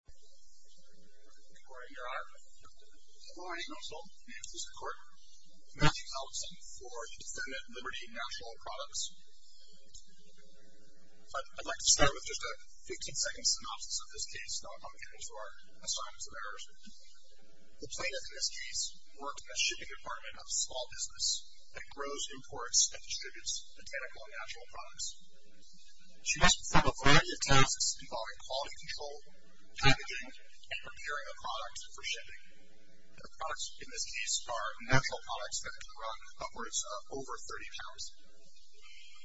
I'd like to start with just a 15-second synopsis of this case, and I'll come back to our assignments and errors. The plaintiff in this case worked in a shipping department of a small business that grows imports and distributes botanical and natural products. She must perform a variety of tasks involving quality control, packaging, and preparing a product for shipping. The products in this case are natural products that can run upwards of over 30 pounds.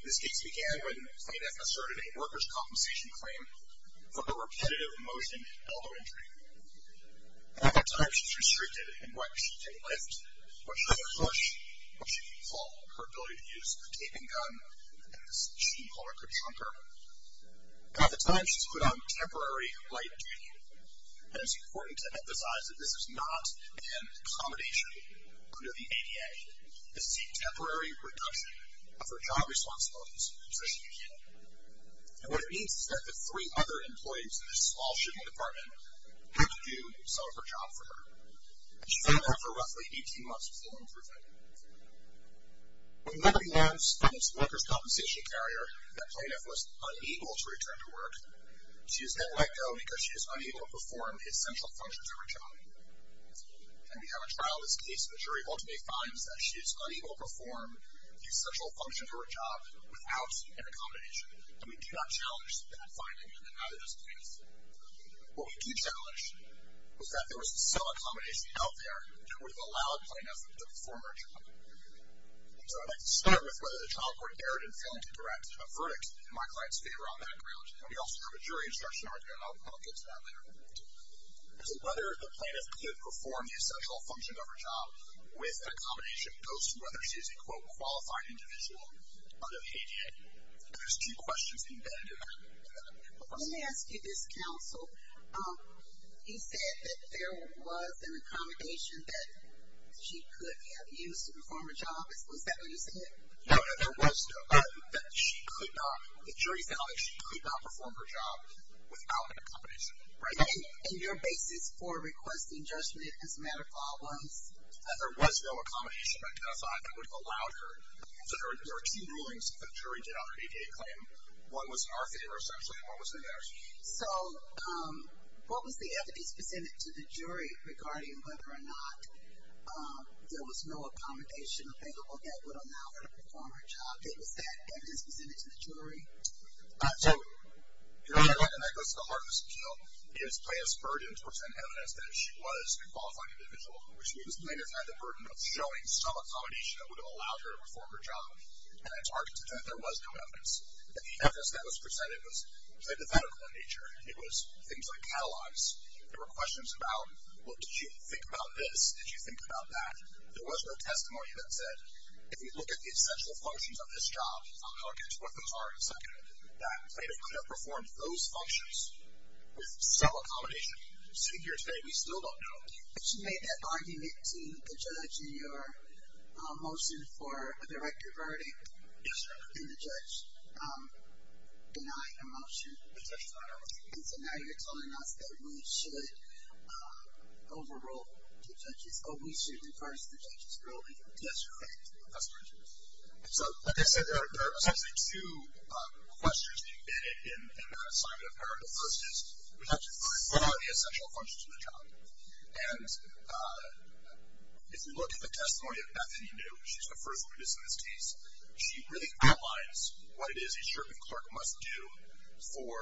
This case began when the plaintiff asserted a workers' compensation claim for the repetitive motion elbow injury. At that time, she was restricted in what she could lift, what she could push, what she could pull, her ability to use a taping gun, and she called it her jumper. Now at the time, she's put on temporary light duty, and it's important to emphasize that this is not an accommodation under the ADA. This is a temporary reduction of her job responsibilities, so she can get it. And what it means is that the three other employees in this small shipping department had to do some of her job for her. She fell ill for roughly 18 months before improving. When the company lands on its workers' compensation carrier, the plaintiff was unable to return to work. She was then let go because she was unable to perform the essential functions of her job. And we have a trial in this case in which a jury ultimately finds that she is unable to perform the essential functions of her job without an accommodation, and we do not challenge that finding in either of those cases. What we do challenge is that there was some accommodation out there that would have allowed the plaintiff to perform her job. And so I'd like to start with whether the child court dared and failed to direct a verdict in my client's favor on that ground. And we also have a jury instruction argument, and I'll get to that later. So whether the plaintiff could perform the essential function of her job with an accommodation goes to whether she is a, quote, qualified individual under the ADA. And there's two questions embedded in that. Let me ask you this, counsel. You said that there was an accommodation that she could have used to perform her job. Was that what you said? No, no, there was no. The jury found that she could not perform her job without an accommodation. And your basis for requesting judgment as a matter of law was? That there was no accommodation identified that would have allowed her. So there were two rulings that the jury did on her ADA claim. One was in our favor, essentially, and one was in theirs. So what was the evidence presented to the jury regarding whether or not there was no accommodation available that would allow her to perform her job? Was that evidence presented to the jury? So, you know, that goes to the heart of this appeal. It is plaintiff's burden to present evidence that she was a qualified individual, which means the plaintiff had the burden of showing some accommodation that would have allowed her to perform her job. And I targeted that there was no evidence. The evidence that was presented was hypothetical in nature. It was things like catalogs. There were questions about, well, did you think about this? Did you think about that? There was no testimony that said, if you look at the essential functions of this job, I'll tell you what those are in a second, that plaintiff could have performed those functions with some accommodation. Sitting here today, we still don't know. But you made that argument to the judge in your motion for a directed verdict. Yes, ma'am. And the judge denied your motion. The judge denied it. And so now you're telling us that we should overrule the judge's, or we should enforce the judge's ruling. Yes, ma'am. That's correct. So like I said, there are essentially two questions being vetted in the assignment of her. The first is, we have to define what are the essential functions of the job. And if you look at the testimony of Bethany New, she's the first witness in this case, she really outlines what it is a sheriff and clerk must do for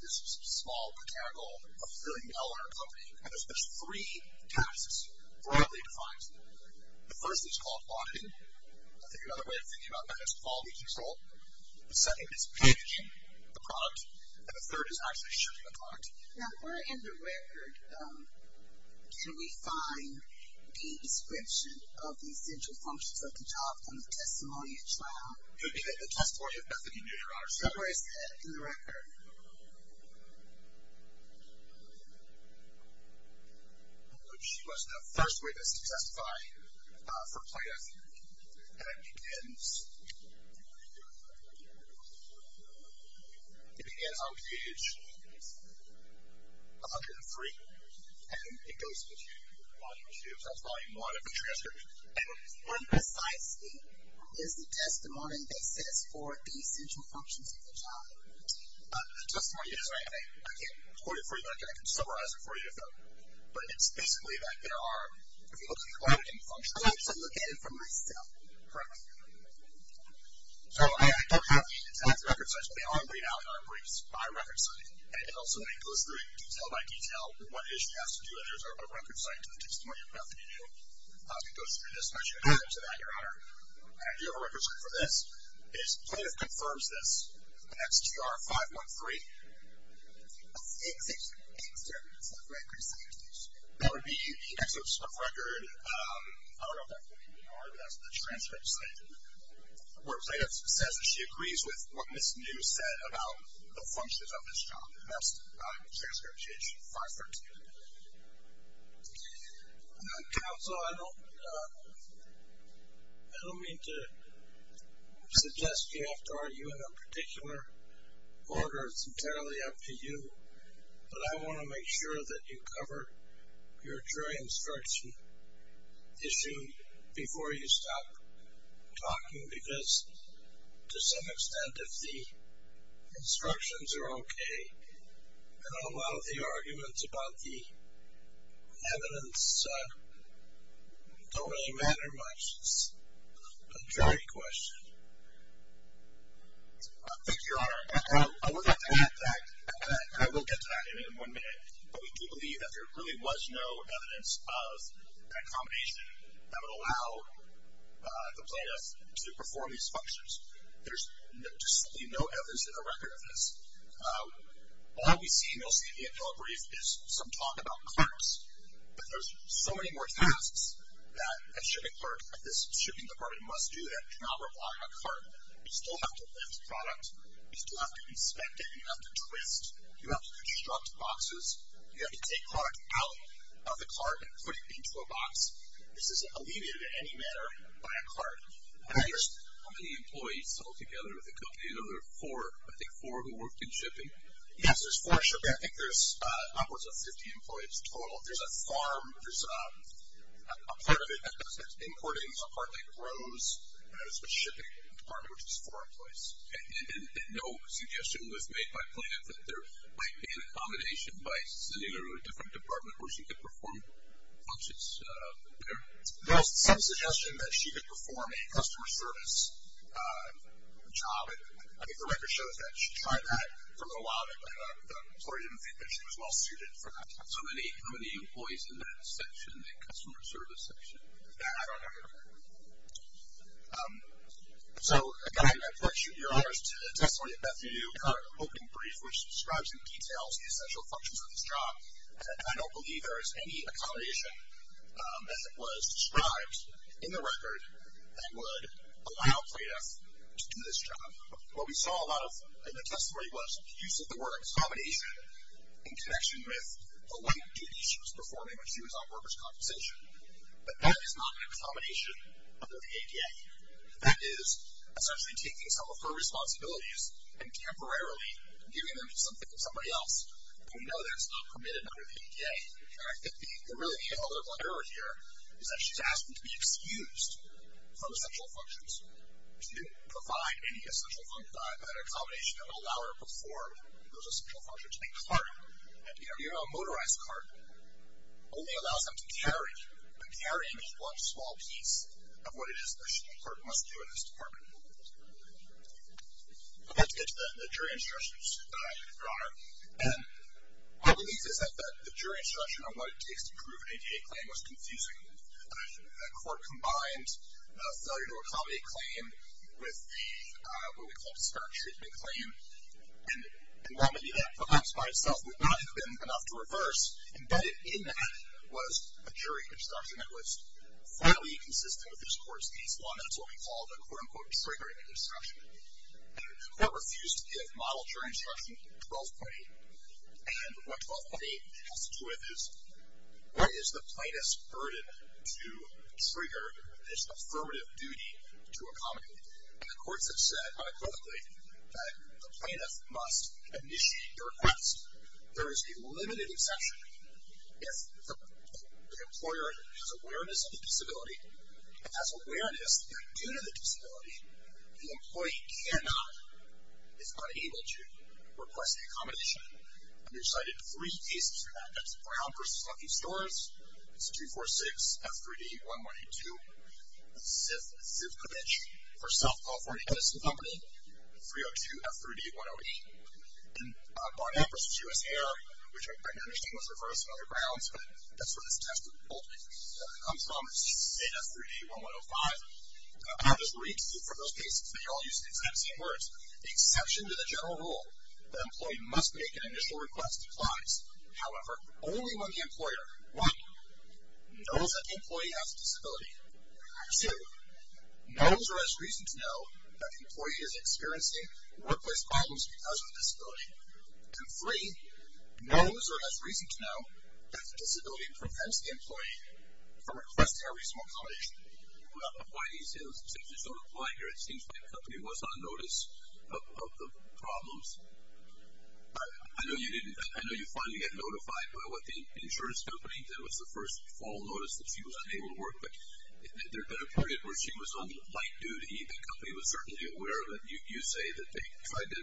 this small, botanical, affiliated L&R company. And there's three tasks broadly defined. The first is called plotting. I think another way of thinking about that is quality control. The second is packaging the product. And the third is actually shooting the product. Now, where in the record can we find the description of the essential functions of the job on the testimony at trial? In the testimony of Bethany New, Your Honor. Where is that in the record? She was the first witness to testify for plaintiff. And it begins on page 103. And it goes to volume two. That's volume one of the transcript. And more precisely, is the testimony that says for the essential functions of the job, the testimony is, I can't quote it for you, but I can summarize it for you. But it's basically that there are, if you look at the formatting functions, they're located from briefs down. Correct? So I don't have the exact record sites, but they are read out in our briefs by record site. And it also goes through detail by detail what it is she has to do, and there's a record site to the testimony of Bethany New. As we go through this, I should add to that, Your Honor, Do you have a record site for this? Plaintiff confirms this in XGR 513. That would be the excerpt of record. I don't know if that's what you mean, Your Honor, but that's the transcript site. Where plaintiff says that she agrees with what Ms. New said about the functions of this job. And that's transcript page 513. Counsel, I don't mean to suggest you have to argue in a particular order. It's entirely up to you. But I want to make sure that you cover your jury instruction issue before you stop talking. Because to some extent, if the instructions are okay, then a lot of the arguments about the evidence don't really matter much. It's a jury question. Thank you, Your Honor. I will get to that in one minute. But we do believe that there really was no evidence of that combination that would allow the plaintiff to perform these functions. There's just simply no evidence in the record of this. All we see, mostly at the end of our brief, is some talk about carts. But there's so many more tasks that a shipping clerk at this shipping department must do that cannot rely on a cart. You still have to lift product. You still have to inspect it. You have to twist. You have to construct boxes. You have to take product out of the cart and put it into a box. This is alleviated in any manner by a cart. How many employees sold together with the company? There were four, I think, four who worked in shipping. Yes, there's four shippers. I think there's upwards of 50 employees total. There's a farm. There's a part of it that does importing. There's a part that grows. And there's a shipping department, which has four employees. And no suggestion was made by plaintiff that there might be an accommodation by sending her to a different department where she could perform functions there? There was some suggestion that she could perform a customer service job. I think the record shows that she tried that for a little while, but the employer didn't think that she was well-suited for that. So how many employees in that section, the customer service section? I don't have your number. So, again, I point your honors to the testimony of Bethany New. Her opening brief, which describes in detail the essential functions of this job. And I don't believe there is any accommodation, as it was described in the record, that would allow plaintiff to do this job. What we saw a lot of in the testimony was the use of the word accommodation in connection with the length of duties she was performing when she was on workers' compensation. But that is not an accommodation under the ADA. That is essentially taking some of her responsibilities and temporarily giving them to somebody else. And we know that's not permitted under the ADA. And I think the really pivotal error here is that she's asking to be excused from essential functions. She didn't provide any essential function accommodation that would allow her to perform those essential functions. A cart, you know, a motorized cart, only allows them to carry. And carrying is one small piece of what it is that she must do in this department. Let's get to the jury instructions, your honor. And my belief is that the jury instruction on what it takes to prove an ADA claim was confusing. A court combined a failure to accommodate claim with the, what we call, discouragement claim. And while maybe that, perhaps by itself, would not have been enough to reverse, embedded in that was a jury instruction that was fairly inconsistent with this court's case law, and that's what we call the, quote, unquote, triggering instruction. And the court refused to give model jury instruction 12.8. And what 12.8 has to do with is, what is the plaintiff's burden to trigger this affirmative duty to accommodate? And the courts have said unequivocally that the plaintiff must initiate the request. There is a limited exception. If the employer has awareness of the disability, has awareness that due to the disability, the employee cannot, is unable to request the accommodation, we cited three cases for that. That's Brown v. Lucky Stores. It's 246-F3D-1182. The Ziff Convention for South California Medicine Company, 302-F3D-108. And Barnett v. US Air, which I understand was reversed on other grounds, but that's where this test result comes from. It's data 3D-1105. I'll just read for those cases. They all use the exact same words. The exception to the general rule that an employee must make an initial request applies. However, only when the employer, one, knows that the employee has a disability, two, knows or has reason to know that the employee is experiencing workplace problems because of the disability, from requesting a reasonable accommodation. Why these exceptions don't apply here? It seems like the company was on notice of the problems. I know you finally got notified by what the insurance company did was the first fall notice that she was unable to work, but there had been a period where she was on light duty. The company was certainly aware of it. You say that they tried to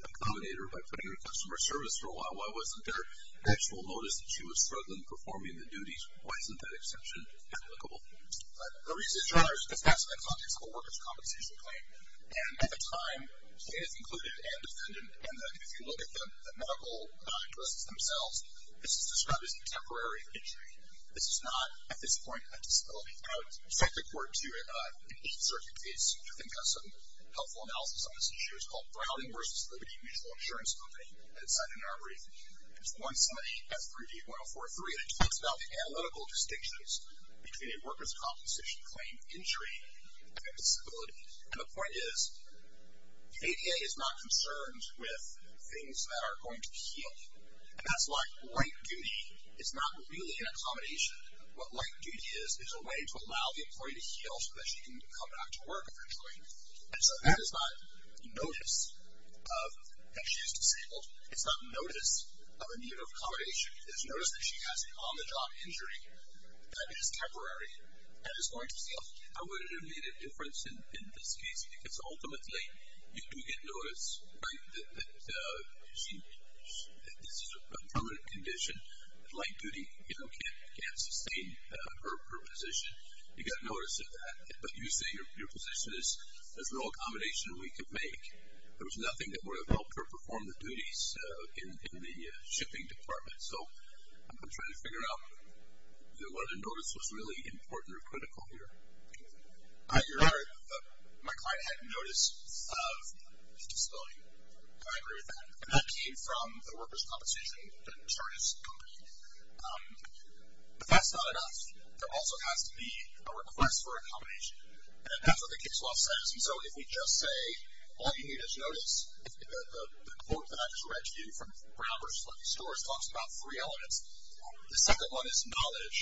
accommodate her by putting her in customer service for a while. Why wasn't there an actual notice that she was struggling performing the duties? Why isn't that exception applicable? The reason it's not is because that's in the context of a workers' compensation claim, and at the time, it is included and defendant, and if you look at the medical addresses themselves, this is described as a temporary injury. This is not, at this point, a disability. I would cite the court, too, in each certain case, which I think has some helpful analysis on this issue. It's called Browning v. Liberty Mutual Insurance Company, and it's cited in our brief. It's 178-3D-1043, and it talks about the analytical distinctions between a workers' compensation claim injury and a disability, and the point is the ADA is not concerned with things that are going to heal, and that's why light duty is not really an accommodation. What light duty is is a way to allow the employee to heal so that she can come back to work eventually, and so that is not notice that she is disabled. It's not notice of a need of accommodation. It is notice that she has an on-the-job injury that is temporary and is going to heal. I wouldn't have made a difference in this case because ultimately you do get notice that this is a permanent condition. Light duty can't sustain her position. You get notice of that, but you say your position is there's no accommodation we can make. There was nothing that would have helped her perform the duties in the shipping department, so I'm trying to figure out whether notice was really important or critical here. You're right. My client had notice of a disability. I agree with that, and that came from the workers' compensation insurance company, but that's not enough. There also has to be a request for accommodation, and that's what the case law says, and so if we just say all you need is notice, the quote that I just read to you from Brown versus Fletcher Storrs talks about three elements. The second one is knowledge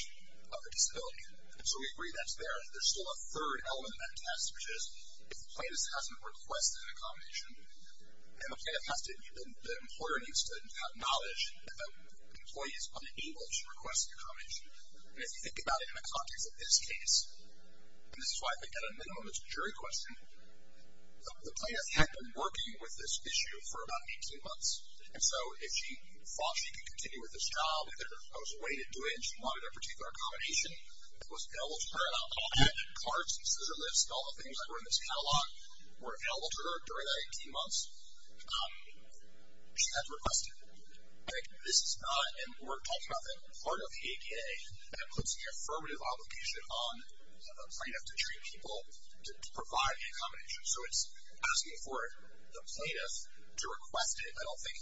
of the disability, and so we agree that's there. There's still a third element of that test, which is if the plaintiff hasn't requested accommodation, and the employer needs to acknowledge that the employee is unable to request accommodation, and if you think about it in the context of this case, and this is why I think at a minimum it's a jury question, the plaintiff had been working with this issue for about 18 months, and so if she thought she could continue with this job, if there was a way to do it and she wanted a particular accommodation that was available to her, all the cards and scissor lifts and all the things that were in this catalog were available to her during that 18 months, she'd have to request it. I think this is not, and we're talking about the part of the ADA that puts the affirmative obligation on the plaintiff to treat people, to provide accommodation, so it's asking for the plaintiff to request it. I don't think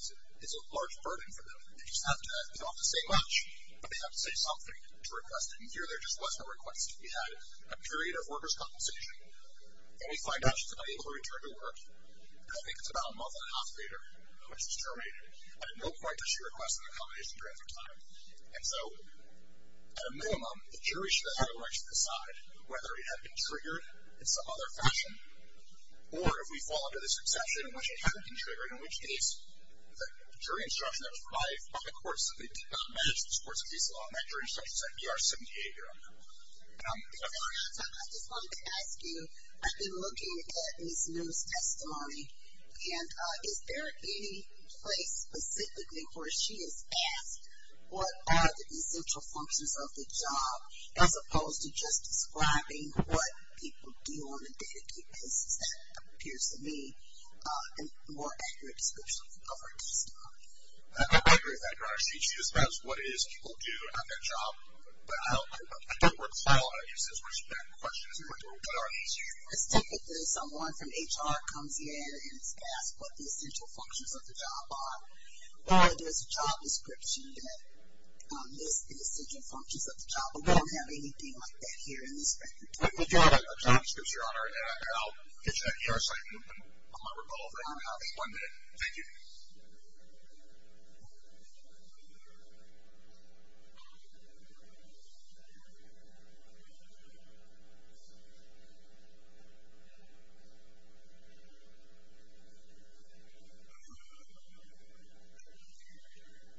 it's a large burden for them. They just have to, they don't have to say much, but they have to say something to request it, and here there just wasn't a request. We had a period of workers' compensation, and we find out she's unable to return to work, and I think it's about a month and a half later when she's terminated. I had no prior to she requesting accommodation during that time, and so at a minimum the jury should have the right to decide whether it had been triggered in some other fashion, or if we fall under this exception in which it hadn't been triggered, in which case the jury instruction that was provided by the courts that they did not manage to support the piece of law, and that jury instruction is at DR-78 here on that one. I just wanted to ask you, I've been looking at Ms. Miller's testimony, and is there any place specifically where she has asked what are the essential functions of the job, as opposed to just describing what people do on a day-to-day basis? That appears to me a more accurate description of her testimony. I agree with that, Your Honor. She describes what it is people do at that job, but I don't recall her using as much of that question as she would do on a day-to-day basis. Let's take it that someone from HR comes in and asks what the essential functions of the job are, or there's a job description that lists the essential functions of the job, but we don't have anything like that here in this record. We do have a job description, Your Honor, and I'll get you that in your assignment. I might recall that you have it one day. Thank you.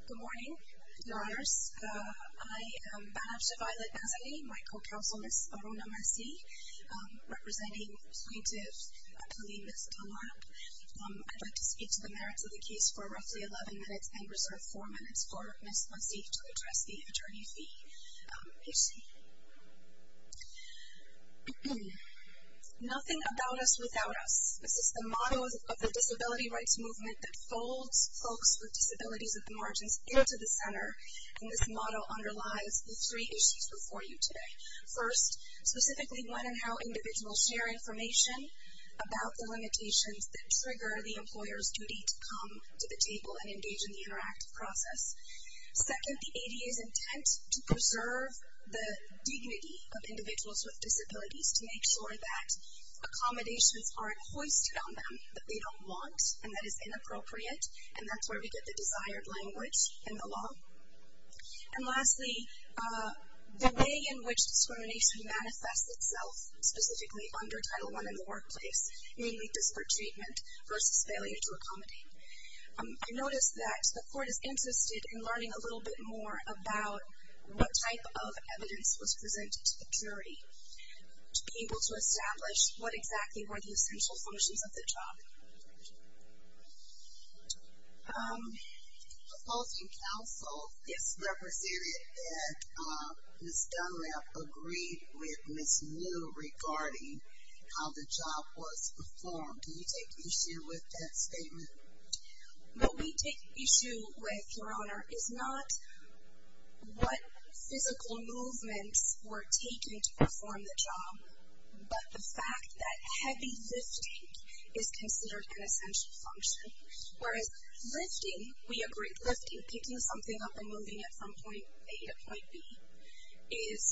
Good morning, Your Honors. I am Banach to Violet Nazary, my co-counsel, Ms. Aruna Masih, representing plaintiff Kaleemis Dunlap. I'd like to speak to the merits of the case for roughly 11 minutes and reserve four minutes for Ms. Masih to address the attorney fee issue. Nothing about us without us. This is the motto of the disability rights movement that folds folks with disabilities at the margins into the center, and this motto underlies the three issues before you today. First, specifically one on how individuals share information about the limitations that trigger the employer's duty to come to the table and engage in the interactive process. Second, the ADA's intent to preserve the dignity of individuals with disabilities to make sure that accommodations aren't hoisted on them that they don't want and that is inappropriate, and that's where we get the desired language in the law. And lastly, the way in which discrimination manifests itself, specifically under Title I in the workplace, namely disparate treatment versus failure to accommodate. I noticed that the court is interested in learning a little bit more about what type of evidence was presented to the jury to be able to establish what exactly were the essential functions of the job. The opposing counsel is represented that Ms. Dunlap agreed with Ms. Liu regarding how the job was performed. Do you take issue with that statement? What we take issue with, Your Honor, is not what physical movements were taken to perform the job, but the fact that heavy lifting is considered an essential function, whereas lifting, we agree, lifting, picking something up and moving it from point A to point B is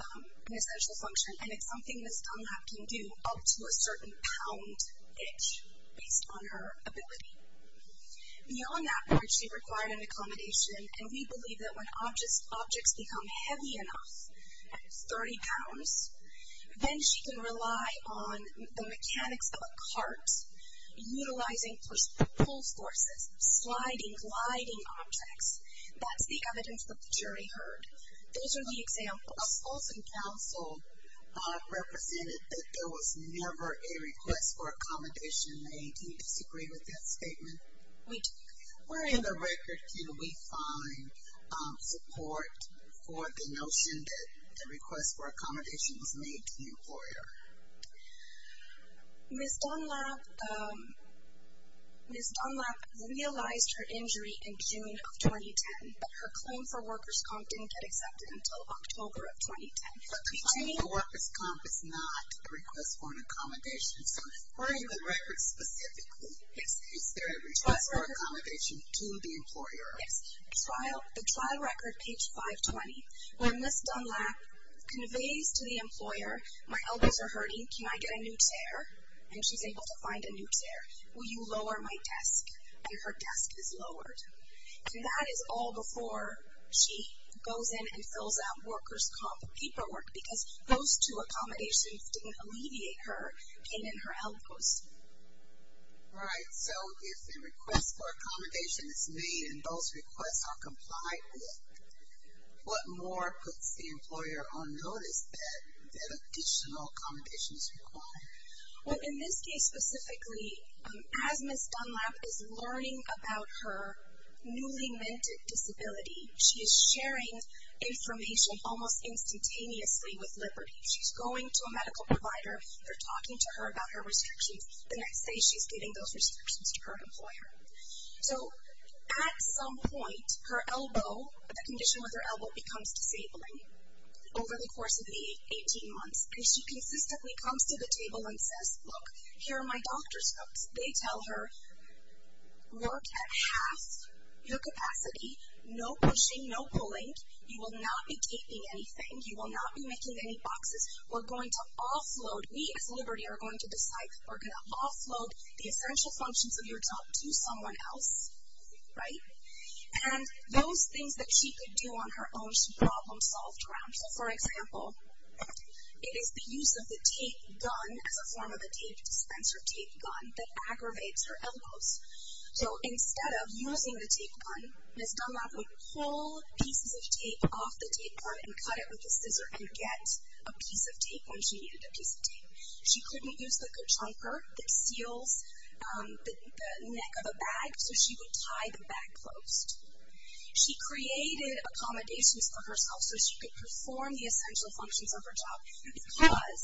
an essential function, and it's something Ms. Dunlap can do up to a certain pound each based on her ability. Beyond that point, she required an accommodation, and we believe that when objects become heavy enough, 30 pounds, then she can rely on the mechanics of a cart, utilizing pull forces, sliding, gliding objects. That's the evidence that the jury heard. Those are the examples. Opposing counsel represented that there was never a request for accommodation. Do you disagree with that statement? We do. Where in the record can we find support for the notion that a request for accommodation was made to the employer? Ms. Dunlap realized her injury in June of 2010, but her claim for workers' comp didn't get accepted until October of 2010. But the claim for workers' comp is not a request for an accommodation, so where in the record specifically is there a request for accommodation to the employer? The trial record, page 520, where Ms. Dunlap conveys to the employer, my elbows are hurting, can I get a new chair? And she's able to find a new chair. Will you lower my desk? And her desk is lowered. And that is all before she goes in and fills out workers' comp paperwork because those two accommodations didn't alleviate her pain in her elbows. All right. So if a request for accommodation is made and those requests are complied with, what more puts the employer on notice that additional accommodation is required? Well, in this case specifically, as Ms. Dunlap is learning about her newly-minted disability, she is sharing information almost instantaneously with Liberty. She's going to a medical provider. They're talking to her about her restrictions. The next day she's giving those restrictions to her employer. So at some point, her elbow, the condition with her elbow becomes disabling over the course of the 18 months, and she consistently comes to the table and says, look, here are my doctor's notes. They tell her, look, at half your capacity, no pushing, no pulling. You will not be taping anything. You will not be making any boxes. We're going to offload. We, as Liberty, are going to decide we're going to offload the essential functions of your job to someone else. Right? And those things that she could do on her own should problem-solve ground. So, for example, it is the use of the tape gun as a form of a tape dispenser, tape gun, that aggravates her elbows. So instead of using the tape gun, Ms. Dunlap would pull pieces of tape off the tape gun and cut it with a scissor and get a piece of tape when she needed a piece of tape. She couldn't use like a chunker that seals the neck of a bag, so she would tie the bag closed. She created accommodations for herself so she could perform the essential functions of her job because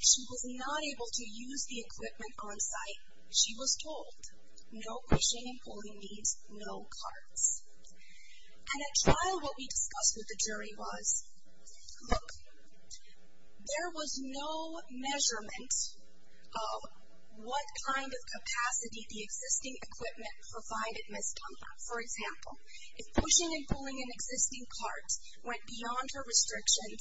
she was not able to use the equipment on site. She was told, no pushing and pulling means no cards. And at trial, what we discussed with the jury was, look, there was no measurement of what kind of capacity the existing equipment provided Ms. Dunlap. For example, if pushing and pulling an existing cart went beyond her restrictions,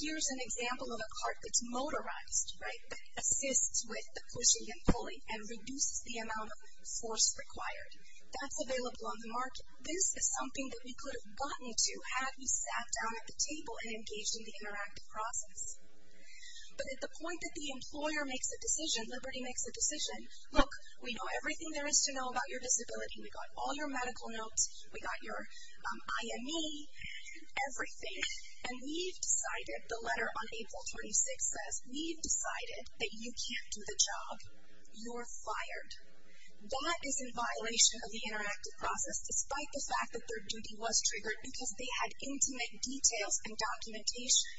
here's an example of a cart that's motorized, right, that assists with the pushing and pulling and reduces the amount of force required. That's available on the market. This is something that we could have gotten to had we sat down at the table and engaged in the interactive process. But at the point that the employer makes a decision, Liberty makes a decision, look, we know everything there is to know about your disability. We got all your medical notes. We got your IME, everything. And we've decided, the letter on April 26th says, we've decided that you can't do the job. You're fired. That is in violation of the interactive process, despite the fact that their duty was triggered because they had intimate details and documentation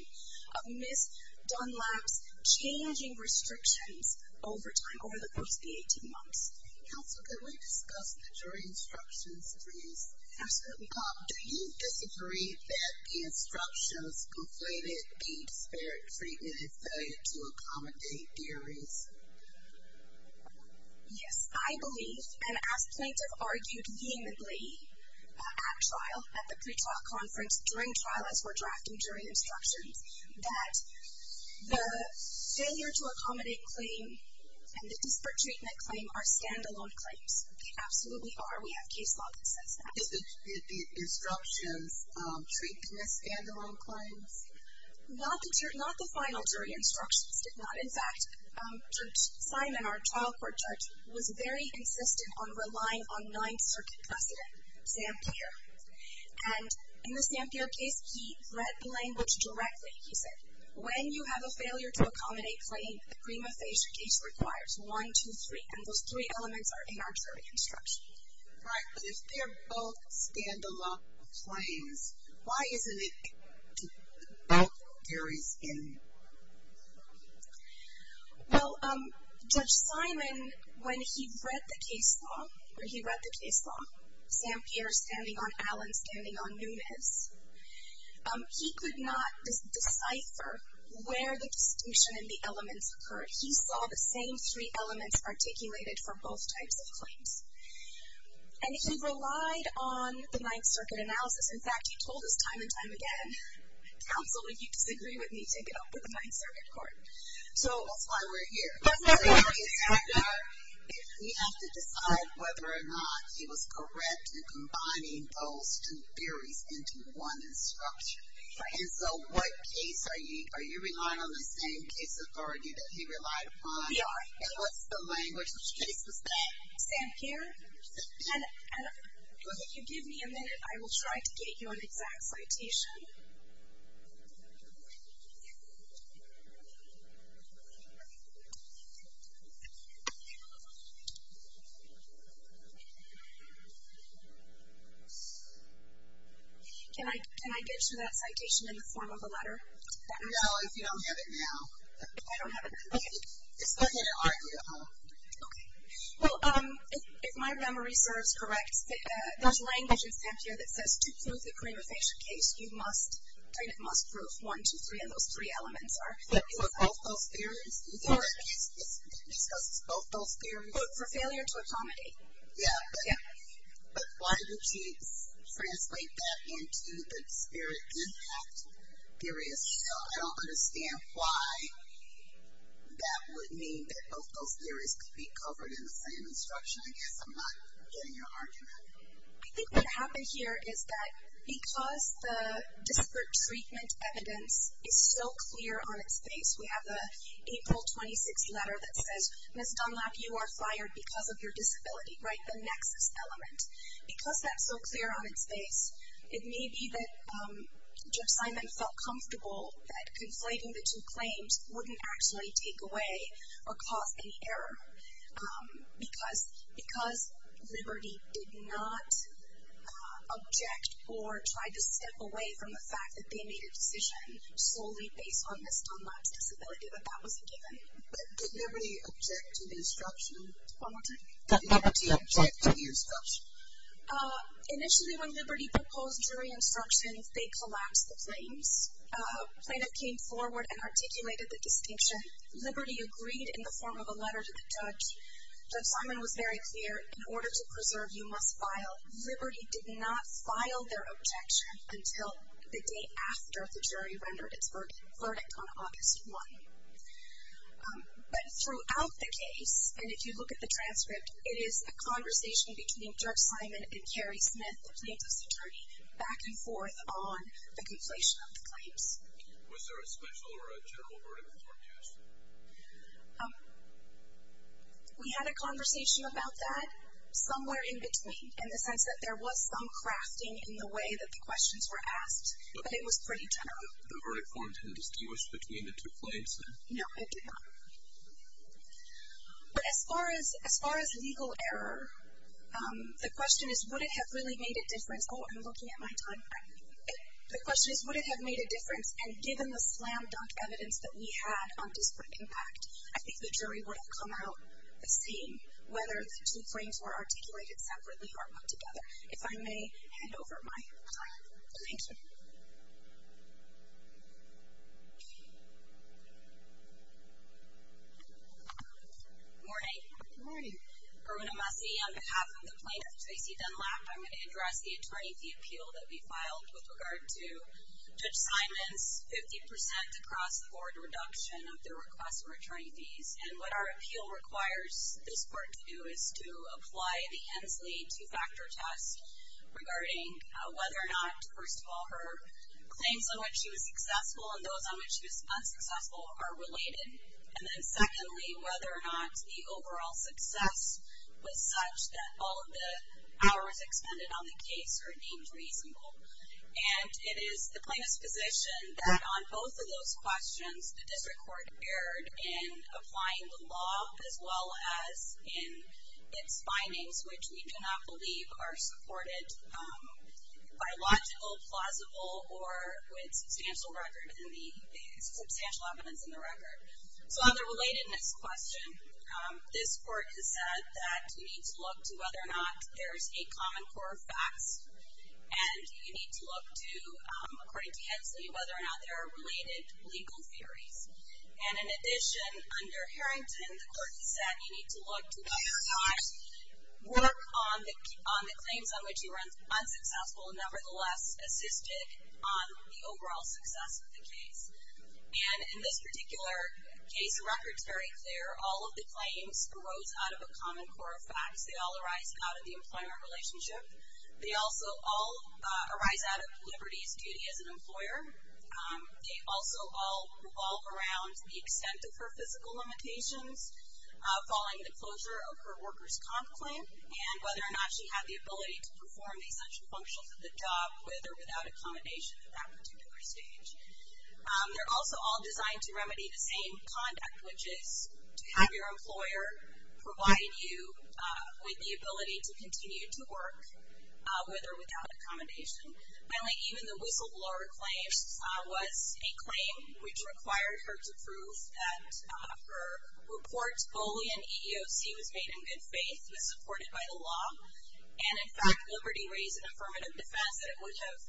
of Ms. Dunlap's changing restrictions over time, over the course of the 18 months. Counsel, can we discuss the jury instructions, please? Absolutely. Do you disagree that the instructions conflated the disparate treatment and failure to accommodate theories? Yes, I believe, and as plaintiff argued vehemently at trial, at the pretrial conference during trial as we're drafting jury instructions, that the failure to accommodate claim and the disparate treatment claim are stand-alone claims. They absolutely are. We have case law that says that. Did the instructions treat them as stand-alone claims? Not the final jury instructions did not. In fact, Judge Simon, our trial court judge, was very insistent on relying on Ninth Circuit President, Sam Peer. And in the Sam Peer case, he read the language directly. He said, when you have a failure to accommodate claim, the prima facie case requires one, two, three, and those three elements are in our jury instructions. Right, but if they're both stand-alone claims, why isn't it that there is any? Well, Judge Simon, when he read the case law, Sam Peer standing on Allen, standing on Nunez, he could not decipher where the distinction in the elements occurred. He saw the same three elements articulated for both types of claims. And he relied on the Ninth Circuit analysis. In fact, he told us time and time again, counsel, if you disagree with me, take it up with the Ninth Circuit Court. So that's why we're here. We have to decide whether or not he was correct in combining those two theories into one instruction. And so what case are you relying on? Are you relying on the same case authority that he relied upon? We are. And what's the language? Which case was that? Sam Peer. And if you give me a minute, I will try to get you an exact citation. Can I get you that citation in the form of a letter? No, if you don't have it now. If I don't have it now. Okay. It's okay to argue at home. Okay. Well, if my memory serves correct, there's language in Sam Peer that says to prove the prima facie case, you must, kind of must prove one, two, three, and those three elements are. But for both those theories? Correct. For both those theories? For failure to accommodate. Yeah. Yeah. But why did you translate that into the disparate impact theories? I don't understand why that would mean that both those theories could be covered in the same instruction. I guess I'm not getting your argument. I think what happened here is that because the disparate treatment evidence is so clear on its face. We have the April 26th letter that says, Ms. Dunlap, you are fired because of your disability, right? The nexus element. Because that's so clear on its face, it may be that Jeff Simon felt comfortable that conflating the two claims wouldn't actually take away or cause any error. Because Liberty did not object or try to step away from the fact that they made a decision solely based on Ms. Dunlap's disability, that that was a given. But did Liberty object to the instruction? One more time. Did Liberty object to the instruction? Initially when Liberty proposed jury instructions, they collapsed the claims. Plaintiff came forward and articulated the distinction. Liberty agreed in the form of a letter to the judge. Jeff Simon was very clear, in order to preserve, you must file. Liberty did not file their objection until the day after the jury rendered its verdict on August 1. But throughout the case, and if you look at the transcript, it is a conversation between Jeff Simon and Carrie Smith, the plaintiff's attorney, back and forth on the conflation of the claims. Was there a special or a general verdict in court yesterday? We had a conversation about that somewhere in between. In the sense that there was some crafting in the way that the questions were asked, but it was pretty general. The verdict forms had distinguished between the two claims? No, it did not. But as far as legal error, the question is, would it have really made a difference? Oh, I'm looking at my time frame. The question is, would it have made a difference? And given the slam-dunk evidence that we had on disparate impact, I think the jury would have come out as seeing whether the two claims were or not together. If I may hand over my time. Thank you. Good morning. Good morning. Eruna Massey, on behalf of the plaintiff, Tracy Dunlap, I'm going to address the attorney fee appeal that we filed with regard to Judge Simon's 50% across the board reduction of their request for attorney fees. And what our appeal requires this court to do is to apply the Ensley two-factor test regarding whether or not, first of all, her claims on which she was successful and those on which she was unsuccessful are related. And then secondly, whether or not the overall success was such that all of the hours expended on the case are deemed reasonable. And it is the plaintiff's position that on both of those questions, the district court erred in applying the law as well as in its findings, which we do not believe are supported by logical, plausible or with substantial record in the substantial evidence in the record. So on the relatedness question, this court has said that you need to look to whether or not there's a common core of facts. And you need to look to, according to Hensley, whether or not there are related legal theories. And in addition, under Harrington, the court has said you need to look to whether or not work on the claims on which you were unsuccessful nevertheless assisted on the overall success of the case. And in this particular case, the record's very clear. All of the claims arose out of a common core of facts. They all arise out of the employment relationship. They also all arise out of Liberty's duty as an employer. They also all revolve around the extent of her physical limitations, following the closure of her worker's comp claim, and whether or not she had the ability to perform the essential functions of the job with or without accommodation at that particular stage. They're also all designed to remedy the same conduct, which is to have your employer provide you with the ability to continue to work with or without accommodation. Finally, even the whistleblower claims was a claim which required her to prove that her report's Boolean EEOC was made in good faith, was supported by the law. And, in fact, Liberty raised an affirmative defense that it would have,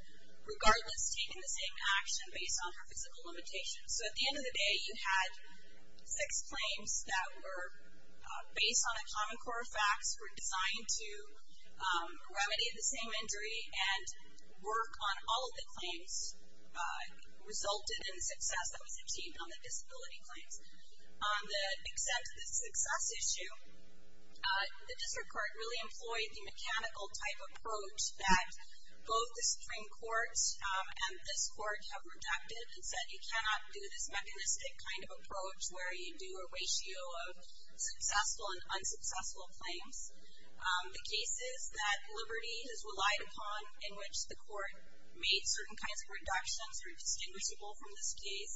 regardless, taken the same action based on her physical limitations. So at the end of the day, you had six claims that were based on a common core of facts, were designed to remedy the same injury, and work on all of the claims resulted in the success that was achieved on the disability claims. The extent of the success issue, the district court really employed the mechanical type approach that both the Supreme Court and this court have rejected and said you cannot do this mechanistic kind of approach where you do a ratio of successful and unsuccessful cases. The cases that Liberty has relied upon in which the court made certain kinds of reductions were distinguishable from this case.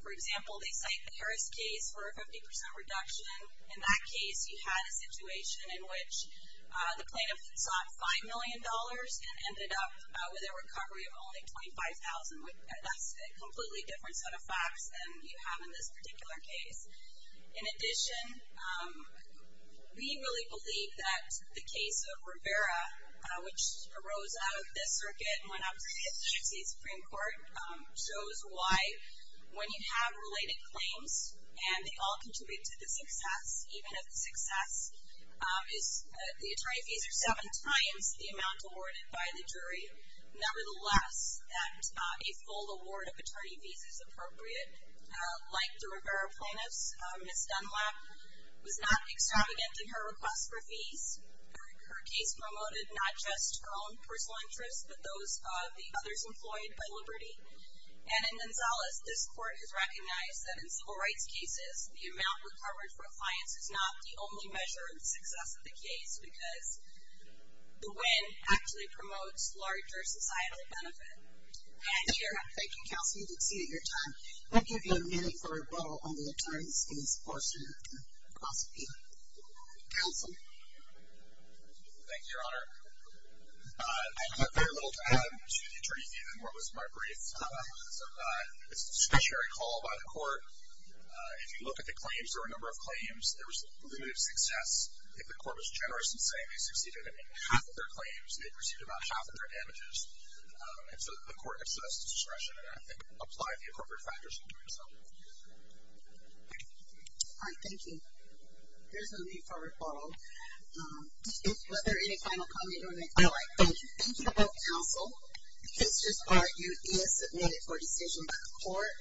For example, they cite the Harris case for a 50% reduction. In that case, you had a situation in which the plaintiff sought $5 million and ended up with a recovery of only $25,000. That's a completely different set of facts than you have in this particular case. In addition, we really believe that the case of Rivera, which arose out of this circuit when I was in the United States Supreme Court, shows why when you have related claims, and they all contribute to the success, even if the success is the attorney fees are seven times the amount awarded by the jury, nevertheless that a full award of attorney fees is appropriate, like the Rivera plaintiffs, Ms. Dunlap was not extravagant in her request for fees. Her case promoted not just her own personal interests, but those of the others employed by Liberty. And in Gonzalez, this court has recognized that in civil rights cases, the amount recovered for a client is not the only measure of the success of the case because the win actually promotes larger societal benefit. Thank you, Counselor. You've exceeded your time. I'll give you a minute for rebuttal on the attorney's case portion. Counsel? Thank you, Your Honor. I took very little time to the attorney fee than what was my brief. It's a statutory call by the court. If you look at the claims, there were a number of claims. There was limited success. If the court was generous in saying they succeeded in half of their claims, they received about half of their damages. And so the court excessed discretion and I think applied the appropriate factors in doing so. All right. Thank you. Here's my brief for rebuttal. Was there any final comment you want to make? No. Thank you. Thank you both, Counsel. If it's just argued, be it submitted for decision by the court.